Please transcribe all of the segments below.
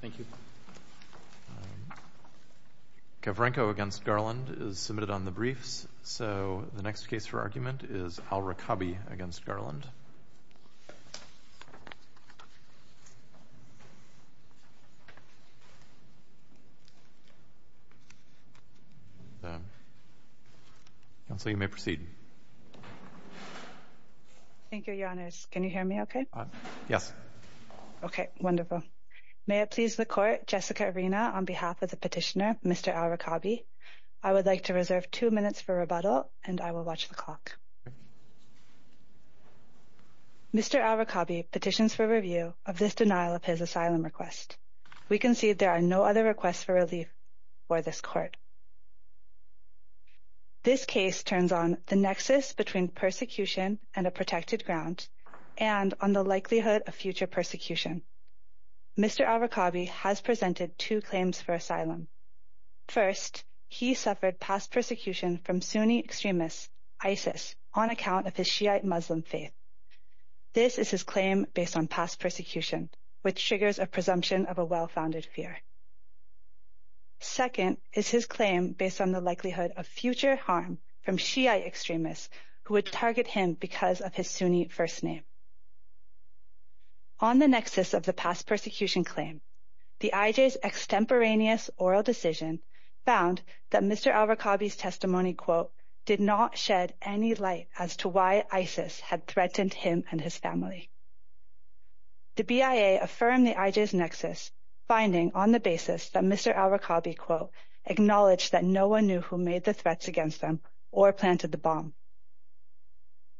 Thank you. Kavrenko v. Garland is submitted on the briefs, so the next case for argument is Al Rikabi v. Garland. Counsel, you may proceed. Thank you, Your Honor. Can you hear me okay? Yes. Okay, wonderful. May it please the Court, Jessica Arena on behalf of the petitioner, Mr. Al Rikabi, I would like to reserve two minutes for rebuttal and I will watch the clock. Mr. Al Rikabi petitions for review of this denial of his asylum request. We concede there are no other requests for relief for this court. This case turns on the nexus between persecution and a protected ground and on the likelihood of future persecution. Mr. Al Rikabi has presented two claims for asylum. First, he suffered past persecution from Sunni extremists, ISIS, on account of his Shiite Muslim faith. This is his claim based on past persecution, which triggers a presumption of a well-founded fear. Second is his claim based on the likelihood of future harm from Shiite extremists who would target him because of his Sunni first name. On the nexus of the past persecution claim, the IJ's extemporaneous oral decision found that Mr. Al Rikabi's testimony, quote, did not shed any light as to why ISIS had threatened him and his family. The BIA affirmed the IJ's nexus finding on the basis that Mr. Al Rikabi, quote, acknowledged that no one knew who made the threats against them or planted the bomb.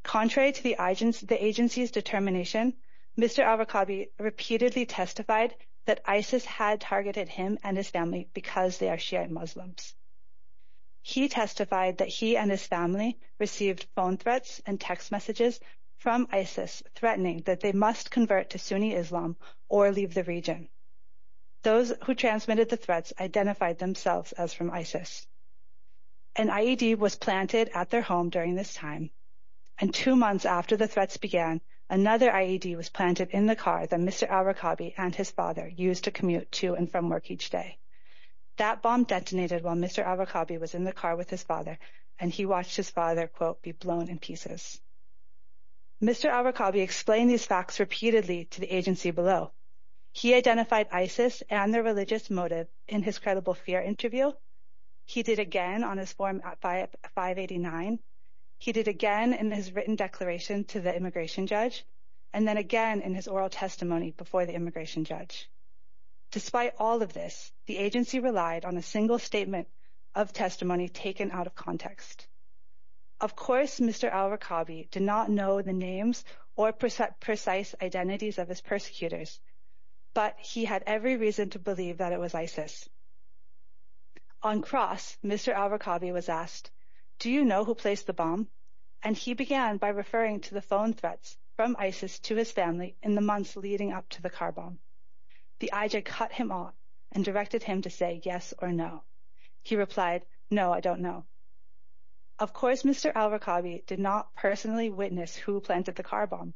Contrary to the agency's determination, Mr. Al Rikabi repeatedly testified that ISIS had targeted him and his family because they are Shiite Muslims. He testified that he and his family received phone threats and text messages from ISIS threatening that they must convert to Sunni Islam or leave the region. Those who transmitted the threats identified themselves as from ISIS. An IED was planted at their home during this time and two months after the threats began, another IED was planted in the car that Mr. Al Rikabi and his father used to commute to and from work each day. That bomb detonated while Mr. Al Rikabi was in the car with his father and he watched his father, quote, be blown in pieces. Mr. Al Rikabi explained these facts repeatedly to the agency below. He identified ISIS and their religious motive in his credible fear interview. He did again on his form at 589. He did again in his written declaration to the immigration judge and then again in his oral testimony before the immigration judge. Despite all of this, the agency relied on a single statement of testimony taken out of context. Of course, Mr. Al Rikabi did not know the names or precise identities of his persecutors, but he had every reason to believe that it was ISIS. On cross, Mr. Al Rikabi was asked, do you know who placed the bomb? And he began by referring to the phone threats from ISIS to his family in the months leading up to the car bomb. The IJ cut him off and directed him to say yes or no. He replied, no, I don't know. Of course, Mr. Al Rikabi did not personally witness who planted the car bomb,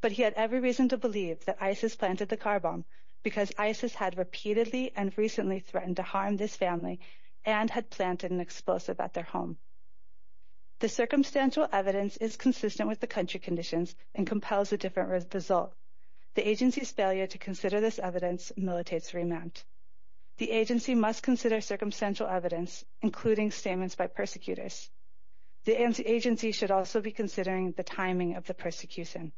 but he had every reason to believe that ISIS planted the car bomb because ISIS had repeatedly and recently threatened to harm this family and had planted an explosive at their home. The circumstantial evidence is consistent with the country conditions and compels a different result. The agency's failure to consider this evidence militates remand. The agency must consider circumstantial evidence, including statements by persecutors. The agency should also be considering the timing of the persecution.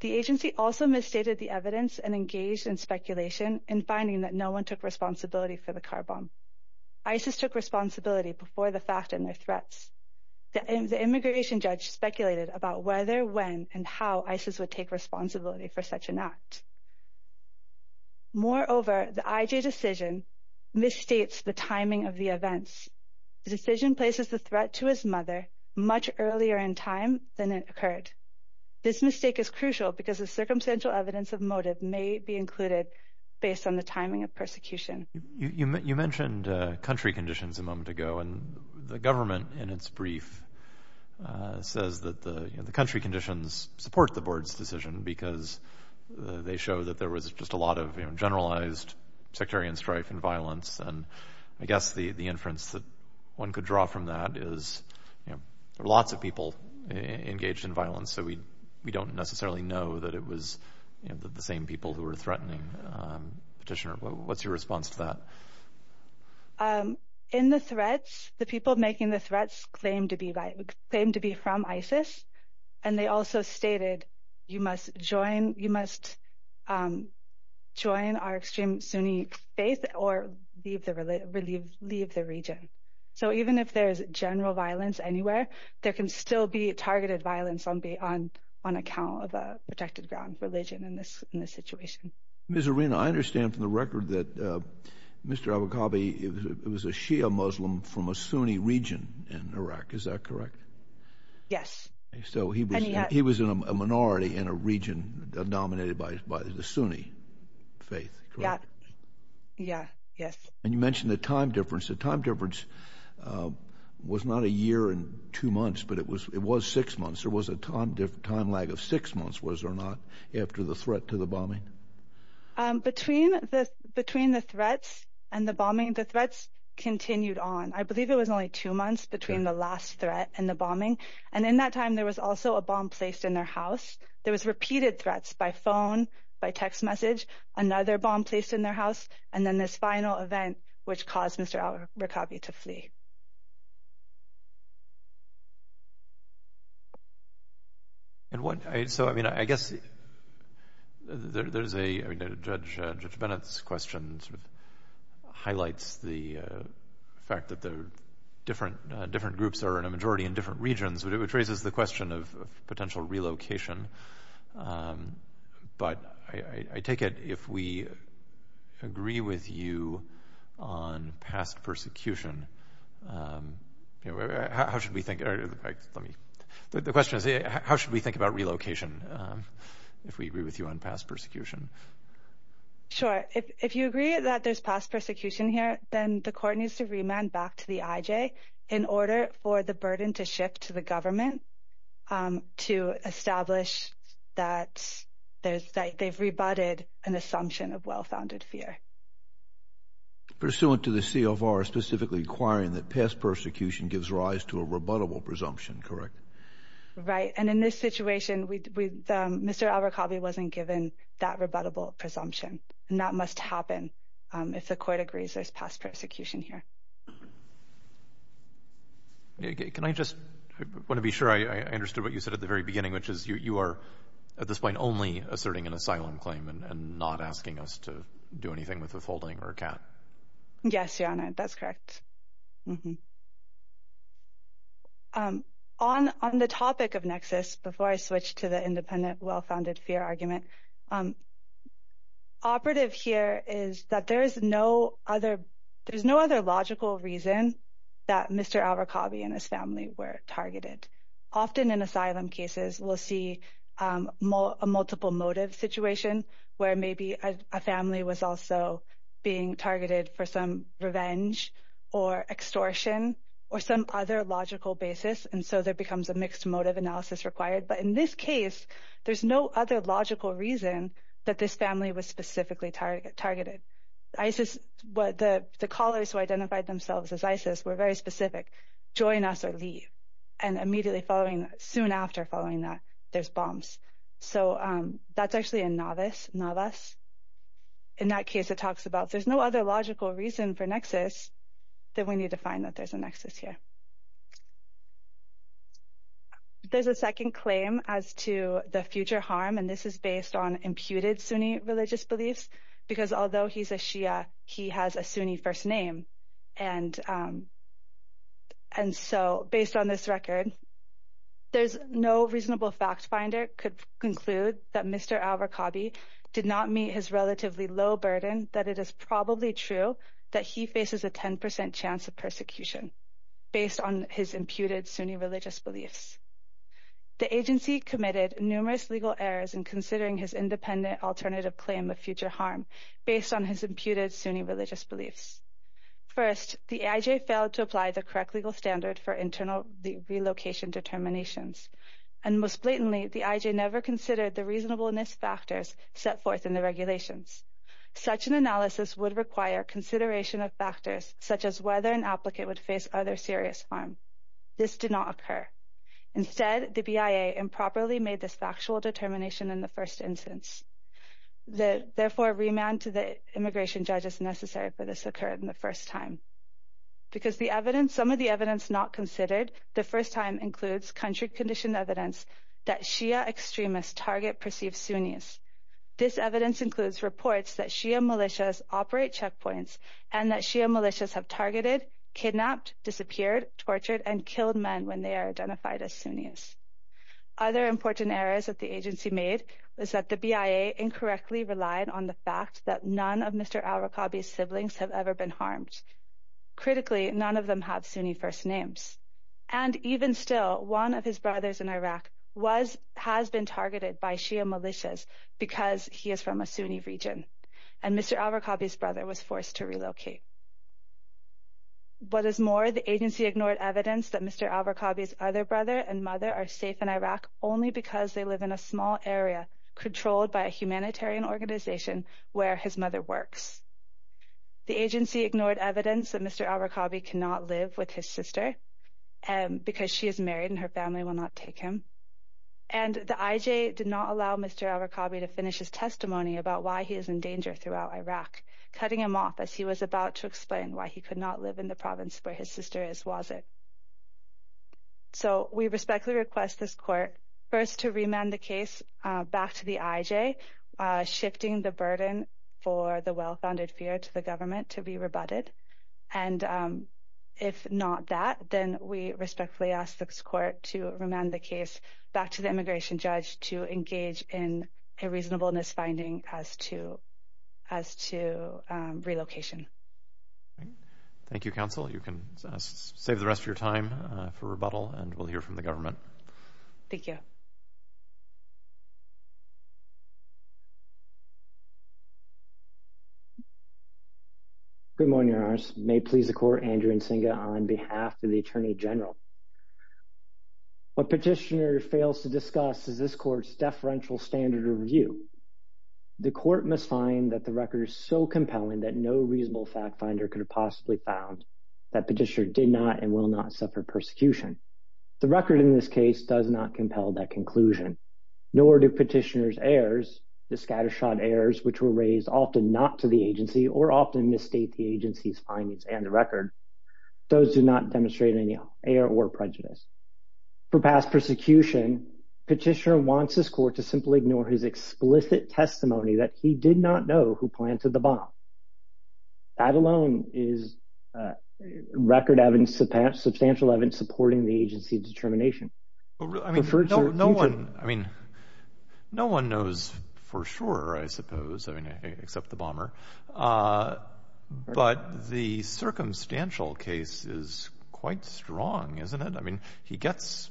The agency also misstated the evidence and engaged in speculation and finding that no one took responsibility for the car bomb. ISIS took responsibility before the fact and their threats. The immigration judge speculated about whether, when, and how ISIS would take responsibility for such an act. Moreover, the IJ decision misstates the timing of the events. The decision places the threat to his mother much earlier in time than it occurred. This mistake is crucial because the circumstantial evidence of motive may be included based on the timing of persecution. You mentioned country conditions a moment ago, and the government in its brief says that the country conditions support the board's decision because they show that there was just a lot of generalized sectarian strife and violence. And I guess the inference that one could draw from that is, there were lots of people engaged in violence, so we don't necessarily know that it was the same people who were threatening. Petitioner, what's your response to that? In the threats, the people making the threats claimed to be from ISIS, and they also stated, you must join our extreme Sunni faith or leave the region. So even if there's general violence anywhere, there can still be targeted violence on account of a protected ground religion in this situation. Ms. Arena, I understand from the record that Mr. Abu Qabi was a Shia Muslim from a Sunni region in Iraq. Is that correct? Yes. So he was in a minority in a region dominated by the Sunni faith, correct? Yeah, yes. And you mentioned the time difference. The time difference was not a year and two months, but it was six months. There was a time lag of six months, was there not, after the threat to the bombing? Between the threats and the bombing, the threats continued on. I believe it was only two months between the last threat and the bombing. And in that time, there was also a bomb placed in their house. There was repeated threats by phone, by text message, another bomb placed in their house, and then this final event, which caused Mr. Abu Qabi to flee. And so, I mean, I guess there's a, I mean, Judge Bennett's question sort of highlights the fact that there are different groups that are in a majority in different regions, which raises the question of potential relocation. But I take it if we agree with you on past persecution, how should we think, or let me, the question is how should we think about relocation, if we agree with you on past persecution? Sure. If you agree that there's past persecution here, then the court needs to remand back to the IJ in order for the burden to shift to the government to establish that they've rebutted an assumption of well-founded fear. Pursuant to the CFR specifically requiring that past persecution gives rise to a rebuttable presumption, correct? Right. And in this situation, Mr. Abu Qabi wasn't given that rebuttable presumption. And that must happen if the court agrees there's past persecution here. Can I just, I want to be sure I understood what you said at the very beginning, which is you are at this point only asserting an asylum claim and not asking us to do anything with withholding or a cap. Yes, Your Honor. That's correct. On the topic of nexus, before I switch to the independent well-founded fear argument, operative here is that there is no other, there's no other logical reason that Mr. Abu Qabi and his family were targeted. Often in asylum cases, we'll see a multiple motive situation where maybe a family was also being targeted for some revenge or extortion or some other logical basis. And so there becomes a mixed motive analysis required. But in this case, there's no other logical reason that this family was specifically targeted. ISIS, the callers who identified themselves as ISIS were very specific, join us or leave. And immediately following, soon after following that, there's bombs. So that's actually a novice, novice. In that case, it talks about there's no other logical reason for nexus that we need to find that there's a nexus here. There's a second claim as to the future harm. And this is based on imputed Sunni religious beliefs. Because although he's a Shia, he has a Sunni first name. And so based on this record, there's no reasonable fact finder could conclude that Mr. Abu Qabi did not meet his relatively low burden, that it is probably true that he faces a 10% chance of persecution. Based on his imputed Sunni religious beliefs. The agency committed numerous legal errors in considering his independent alternative claim of future harm based on his imputed Sunni religious beliefs. First, the IJ failed to apply the correct legal standard for internal relocation determinations. And most blatantly, the IJ never considered the reasonableness factors set forth in the regulations. Such an analysis would require consideration of factors such as whether an applicant would face other serious harm. This did not occur. Instead, the BIA improperly made this factual determination in the first instance. Therefore, remand to the immigration judge is necessary for this to occur in the first time. Because some of the evidence not considered the first time includes country condition evidence that Shia extremists target perceived Sunnis. This evidence includes reports that Shia militias operate checkpoints and that Shia militias have targeted, kidnapped, disappeared, tortured and killed men when they are identified as Sunnis. Other important errors that the agency made is that the BIA incorrectly relied on the fact that none of Mr. Al-Rakabi's siblings have ever been harmed. Critically, none of them have Sunni first names. And even still, one of his brothers in Iraq has been targeted by Shia militias because he is from a Sunni region. And Mr. Al-Rakabi's brother was forced to relocate. What is more, the agency ignored evidence that Mr. Al-Rakabi's other brother and mother are safe in Iraq only because they live in a small area controlled by a humanitarian organization where his mother works. The agency ignored evidence that Mr. Al-Rakabi cannot live with his sister because she is married and her family will not take him. And the IJ did not allow Mr. Al-Rakabi to finish his testimony about why he is in danger throughout Iraq, cutting him off as he was about to explain why he could not live in the province where his sister is, was it? So we respectfully request this court first to remand the case back to the IJ, shifting the burden for the well-founded fear to the government to be rebutted. And if not that, then we respectfully ask this court to remand the case back to the immigration judge to engage in a reasonableness finding as to relocation. Thank you, counsel. You can save the rest of your time for rebuttal and we'll hear from the government. Thank you. Good morning, your honors. May it please the court, Andrew Nsinga on behalf of the attorney general. What petitioner fails to discuss is this court's deferential standard of review. The court must find that the record is so compelling that no reasonable fact finder could have possibly found that petitioner did not and will not suffer persecution. The record in this case does not compel that conclusion. Nor do petitioner's errors, the scattershot errors which were raised often not to the agency or often misstate the agency's findings and the record. Those do not demonstrate any error or prejudice. For past persecution, petitioner wants this court to simply ignore his explicit testimony that he did not know who planted the bomb. That alone is record evidence, substantial evidence supporting the agency's determination. No one knows for sure, I suppose, except the bomber. But the circumstantial case is quite strong, isn't it? I mean, he gets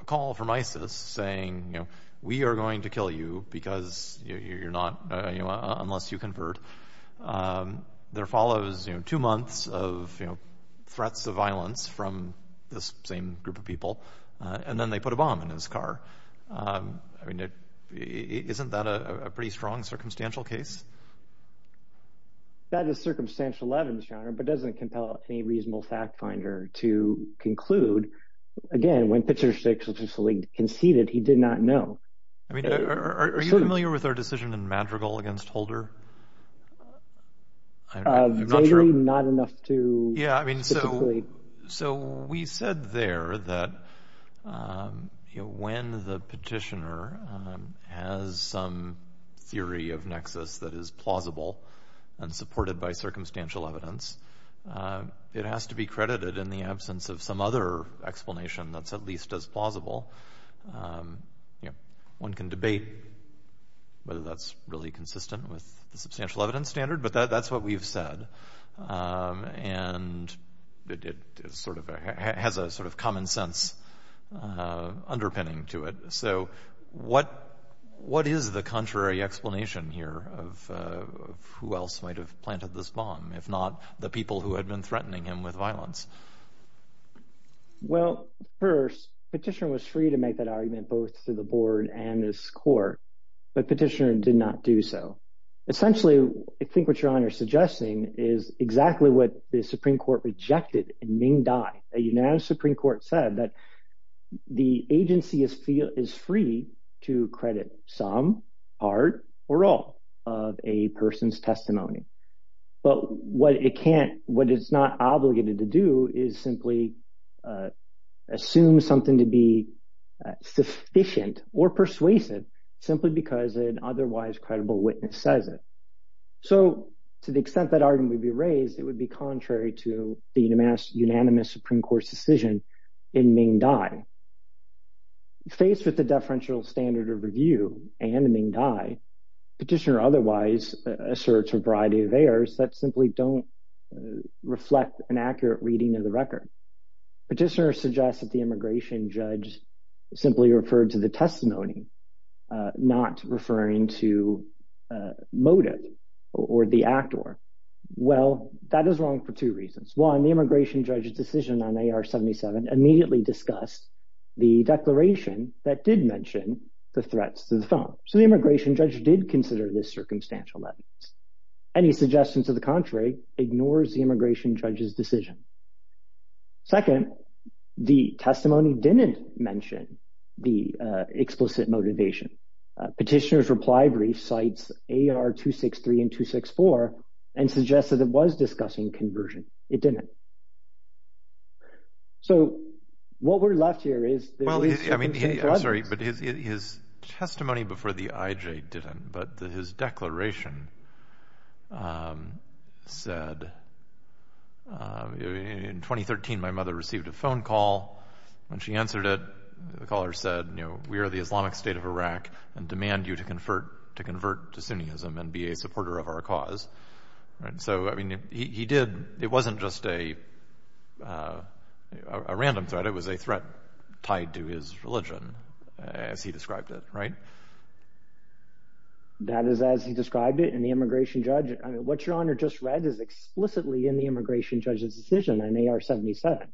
a call from ISIS saying, you know, we are going to kill you because you're not, you know, unless you convert. There follows, you know, two months of, you know, threats of violence from this same group of people. And then they put a bomb in his car. I mean, isn't that a pretty strong circumstantial case? That is circumstantial evidence, Your Honor, but doesn't compel any reasonable fact finder to conclude. Again, when Petitioner 6 officially conceded, he did not know. I mean, are you familiar with our decision in Madrigal against Holder? I'm not sure. Not enough to specifically. Yeah, I mean, so we said there that when the petitioner has some theory of nexus that is plausible and supported by circumstantial evidence, it has to be credited in the absence of some other explanation that's at least as plausible. One can debate whether that's really consistent with the substantial evidence standard, but that's what we've said. And it sort of has a sort of common sense underpinning to it. So what is the contrary explanation here of who else might have planted this bomb, if not the people who had been threatening him with violence? Well, first, Petitioner was free to make that argument both to the board and his court, but Petitioner did not do so. Essentially, I think what Your Honor is suggesting is exactly what the Supreme Court rejected in Ming Dai. The United Supreme Court said that the agency is free to credit some, part, or all of a person's testimony. But what it's not obligated to do is simply assume something to be sufficient or persuasive simply because an otherwise credible witness says it. So to the extent that argument would be raised, it would be contrary to the unanimous Supreme Court's decision in Ming Dai. Faced with the deferential standard of review and in Ming Dai, Petitioner otherwise asserts a variety of errors that simply don't reflect an accurate reading of the record. Petitioner suggests that the immigration judge simply referred to the testimony, not referring to motive or the actor. Well, that is wrong for two reasons. One, the immigration judge's decision on AR-77 immediately discussed the declaration that did mention the threats to the phone. So the immigration judge did consider this circumstantial evidence. Any suggestion to the contrary ignores the immigration judge's decision. Second, the testimony didn't mention the explicit motivation. Petitioner's reply brief cites AR-263 and 264 and suggests that it was discussing conversion. It didn't. So what we're left here is there is something to add. I'm sorry, but his testimony before the IJ didn't, but his declaration said, in 2013 my mother received a phone call. When she answered it, the caller said, you know, we are the Islamic State of Iraq and demand you to convert to Sunniism and be a supporter of our cause. So, I mean, he did. It wasn't just a random threat. But it was a threat tied to his religion, as he described it, right? That is as he described it. And the immigration judge, I mean, what Your Honor just read is explicitly in the immigration judge's decision on AR-77.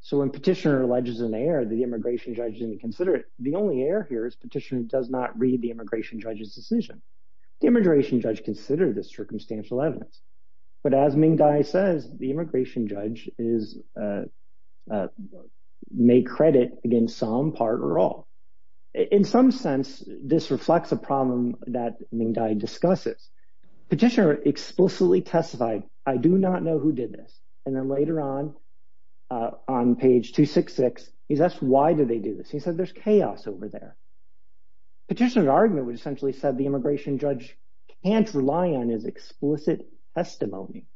So when petitioner alleges an error, the immigration judge didn't consider it. The only error here is petitioner does not read the immigration judge's decision. The immigration judge considered this circumstantial evidence. But as Ming Dai says, the immigration judge may credit against some part or all. In some sense, this reflects a problem that Ming Dai discusses. Petitioner explicitly testified, I do not know who did this. And then later on, on page 266, he's asked why did they do this. He said there's chaos over there. Petitioner's argument would essentially have said the immigration judge can't rely on his explicit testimony.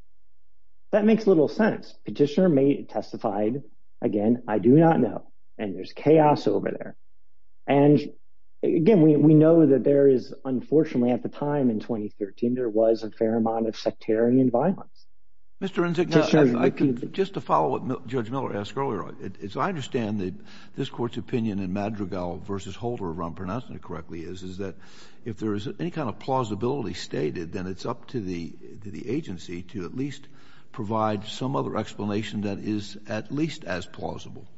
That makes little sense. Petitioner testified, again, I do not know, and there's chaos over there. And, again, we know that there is, unfortunately at the time in 2013, there was a fair amount of sectarian violence. Mr. Renzick, just to follow what Judge Miller asked earlier, I understand that this Court's opinion in Madrigal v. Holder, if I'm pronouncing it correctly, is that if there is any kind of plausibility stated, then it's up to the agency to at least provide some other explanation that is at least as plausible.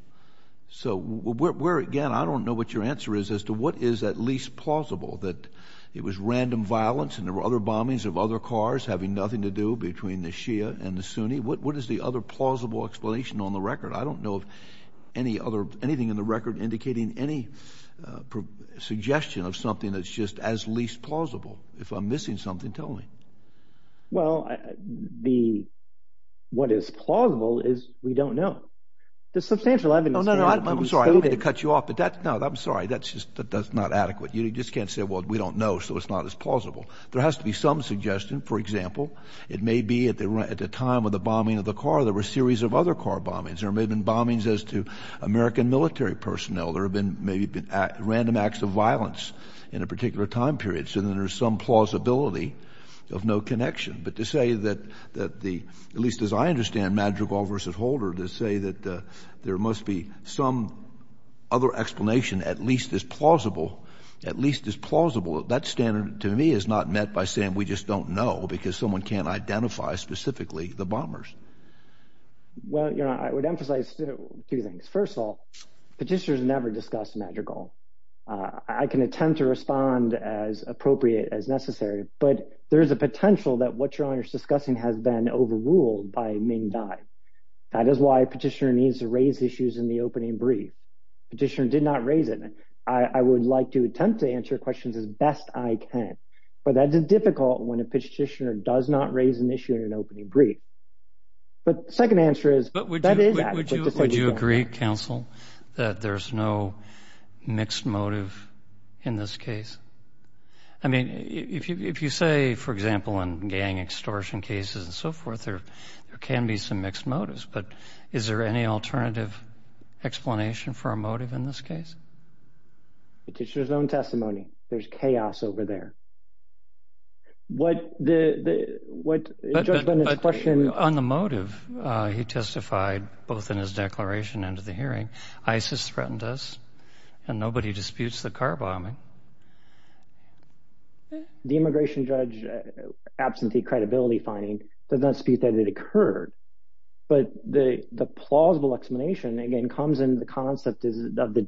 So where, again, I don't know what your answer is as to what is at least plausible, that it was random violence and there were other bombings of other cars having nothing to do between the Shia and the Sunni. What is the other plausible explanation on the record? I don't know of anything in the record indicating any suggestion of something that's just as least plausible. If I'm missing something, tell me. Well, what is plausible is we don't know. The substantial evidence— No, no, no, I'm sorry. I don't mean to cut you off, but that's—no, I'm sorry. That's just not adequate. You just can't say, well, we don't know, so it's not as plausible. There has to be some suggestion. For example, it may be at the time of the bombing of the car there were a series of other car bombings. There may have been bombings as to American military personnel. There may have been random acts of violence in a particular time period, so then there's some plausibility of no connection. But to say that the—at least as I understand Madrigal v. Holder, to say that there must be some other explanation at least as plausible, at least as plausible, that standard to me is not met by saying we just don't know because someone can't identify specifically the bombers. Well, you know, I would emphasize two things. First of all, petitioners never discuss Madrigal. I can attempt to respond as appropriate as necessary, but there is a potential that what you're discussing has been overruled by Ming Dai. That is why a petitioner needs to raise issues in the opening brief. A petitioner did not raise it. I would like to attempt to answer questions as best I can, but that is difficult when a petitioner does not raise an issue in an opening brief. But the second answer is that is adequate. Would you agree, counsel, that there's no mixed motive in this case? I mean, if you say, for example, in gang extortion cases and so forth, there can be some mixed motives, but is there any alternative explanation for a motive in this case? Petitioner's own testimony. There's chaos over there. What the—what Judge Linden's question— But on the motive, he testified both in his declaration and at the hearing, ISIS threatened us, and nobody disputes the car bombing. The immigration judge absentee credibility finding does not dispute that it occurred, but the plausible explanation, again, comes in the concept of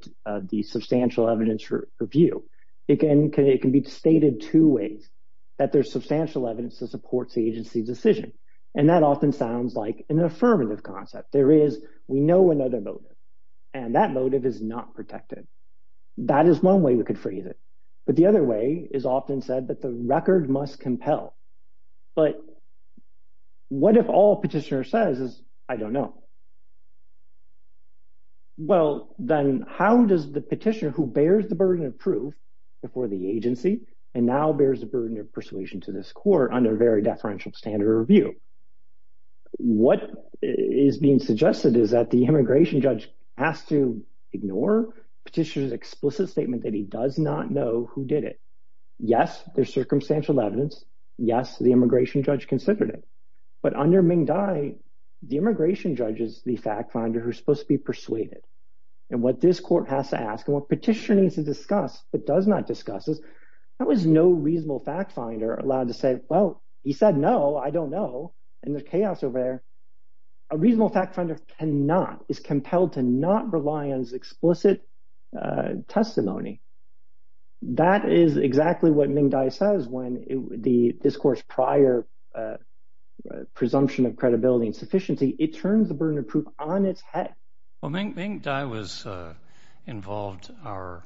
the substantial evidence review. It can be stated two ways, that there's substantial evidence that supports the agency's decision, and that often sounds like an affirmative concept. There is—we know another motive, and that motive is not protected. That is one way we could phrase it. But the other way is often said that the record must compel. But what if all petitioner says is, I don't know? Well, then how does the petitioner who bears the burden of proof before the agency and now bears the burden of persuasion to this court under very deferential standard review, what is being suggested is that the immigration judge has to ignore petitioner's explicit statement that he does not know who did it. Yes, there's circumstantial evidence. Yes, the immigration judge considered it. But under Ming Dai, the immigration judge is the fact finder who's supposed to be persuaded. And what this court has to ask and what petitioner needs to discuss but does not discuss is, how is no reasonable fact finder allowed to say, well, he said no, I don't know, and there's chaos over there? A reasonable fact finder cannot, is compelled to not rely on his explicit testimony. That is exactly what Ming Dai says when the discourse prior presumption of credibility and sufficiency, it turns the burden of proof on its head. Well, Ming Dai was involved. Our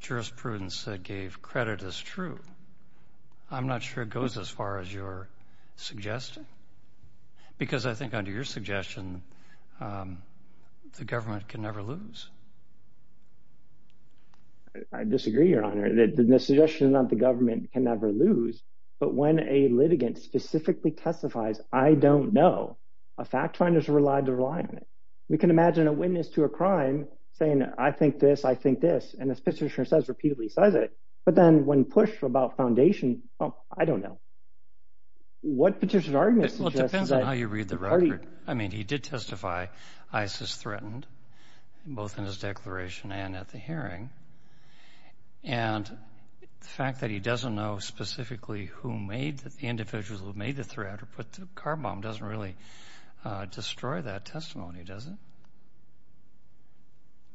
jurisprudence gave credit as true. I'm not sure it goes as far as you're suggesting because I think under your suggestion, the government can never lose. I disagree, Your Honor. The suggestion of the government can never lose. But when a litigant specifically testifies, I don't know, a fact finder is relied to rely on it. We can imagine a witness to a crime saying, I think this, I think this, and this petitioner says, repeatedly says it. But then when pushed about foundation, oh, I don't know. What petitioner's argument suggests that? Well, it depends on how you read the record. I mean, he did testify ISIS threatened, both in his declaration and at the hearing. And the fact that he doesn't know specifically who made, the individuals who made the threat doesn't really destroy that testimony, does it?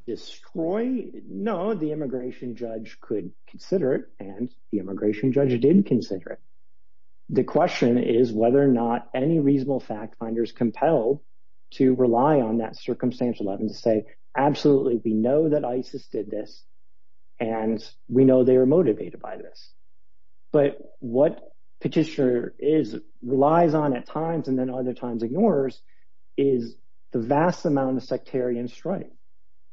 Destroy? No, the immigration judge could consider it, and the immigration judge did consider it. The question is whether or not any reasonable fact finders compel to rely on that circumstantial evidence to say, absolutely, we know that ISIS did this, and we know they were motivated by this. But what petitioner is, relies on at times, and then other times ignores, is the vast amount of sectarian strife.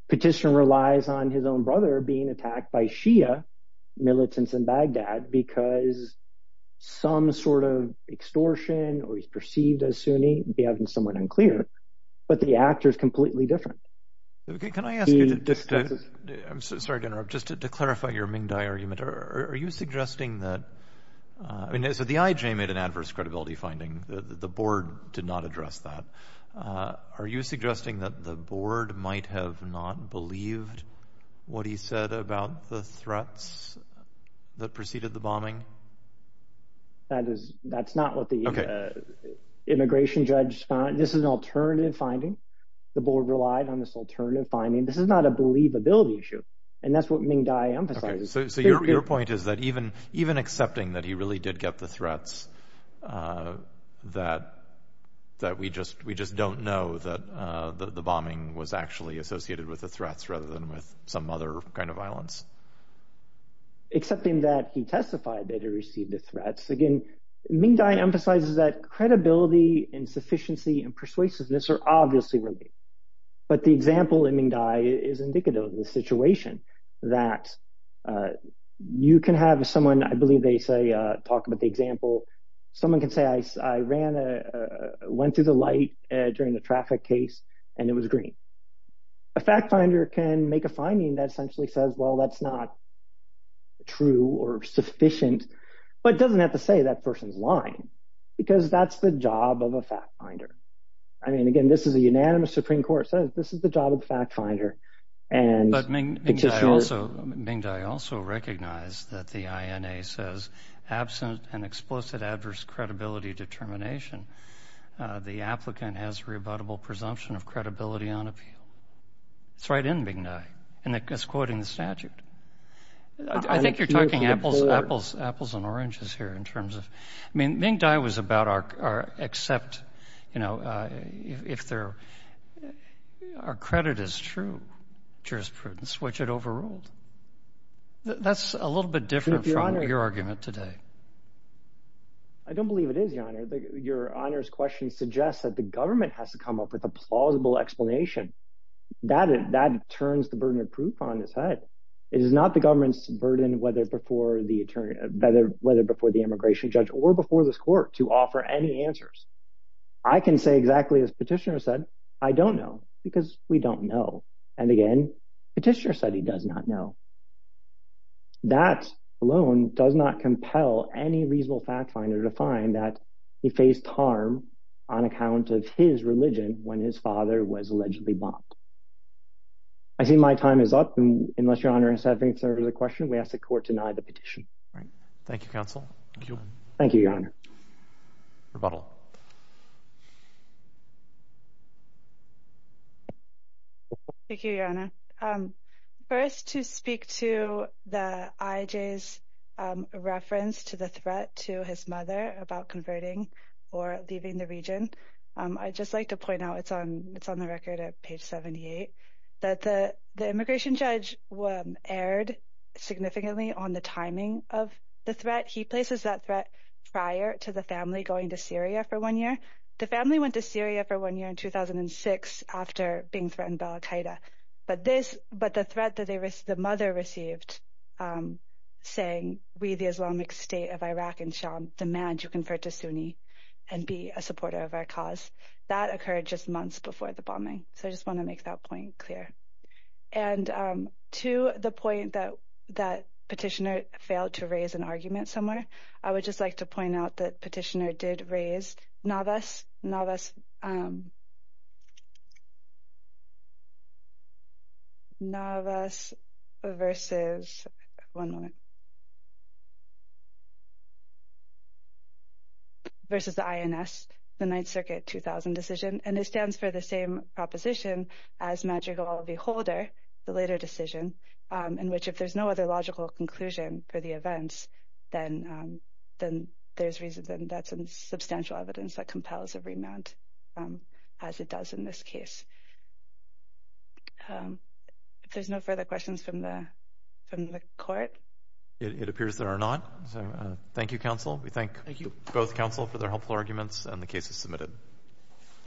Petitioner relies on his own brother being attacked by Shia militants in Baghdad because some sort of extortion, or he's perceived as Sunni, behaved somewhat unclear. But the actor is completely different. Can I ask you to, I'm sorry to interrupt, just to clarify your Ming Dai argument. Are you suggesting that, so the IJ made an adverse credibility finding. The board did not address that. Are you suggesting that the board might have not believed what he said about the threats that preceded the bombing? That's not what the immigration judge, this is an alternative finding. The board relied on this alternative finding. This is not a believability issue, and that's what Ming Dai emphasizes. So your point is that even accepting that he really did get the threats, that we just don't know that the bombing was actually associated with the threats rather than with some other kind of violence. Accepting that he testified that he received the threats. Again, Ming Dai emphasizes that credibility, insufficiency, and persuasiveness are obviously related. But the example in Ming Dai is indicative of the situation that you can have someone, I believe they say, talk about the example. Someone can say, I went through the light during the traffic case, and it was green. A fact finder can make a finding that essentially says, well, that's not true or sufficient, but it doesn't have to say that person's lying because that's the job of a fact finder. I mean, again, this is a unanimous Supreme Court. This is the job of the fact finder. But Ming Dai also recognized that the INA says, absent an explicit adverse credibility determination, the applicant has rebuttable presumption of credibility on appeal. It's right in Ming Dai, and it's quoting the statute. I think you're talking apples and oranges here in terms of – I mean, Ming Dai was about our accept, if our credit is true, jurisprudence, which it overruled. That's a little bit different from your argument today. I don't believe it is, Your Honor. Your Honor's question suggests that the government has to come up with a plausible explanation. That turns the burden of proof on its head. It is not the government's burden, whether before the immigration judge or before this court, to offer any answers. I can say exactly as Petitioner said, I don't know, because we don't know. And again, Petitioner said he does not know. That alone does not compel any reasonable fact finder to find that he faced harm on account of his religion when his father was allegedly bombed. I see my time is up. Unless, Your Honor, you have any further questions, we ask the court to deny the petition. Thank you, counsel. Thank you, Your Honor. Rebuttal. Thank you, Your Honor. First, to speak to the IJ's reference to the threat to his mother about converting or leaving the region, I'd just like to point out, it's on the record at page 78, that the immigration judge erred significantly on the timing of the threat. He places that threat prior to the family going to Syria for one year. The family went to Syria for one year in 2006 after being threatened by al Qaeda. But the threat that the mother received, saying, we, the Islamic State of Iraq, demand you convert to Sunni and be a supporter of our cause, that occurred just months before the bombing. So I just want to make that point clear. And to the point that Petitioner failed to raise an argument somewhere, I would just like to point out that Petitioner did raise NAVAS versus, one moment, versus the INS, the 9th Circuit 2000 decision. And it stands for the same proposition as Madrigal v. Holder, the later decision, in which if there's no other logical conclusion for the events, then that's substantial evidence that compels a remand, as it does in this case. If there's no further questions from the court. It appears there are not. Thank you, counsel. We thank both counsel for their helpful arguments, and the case is submitted.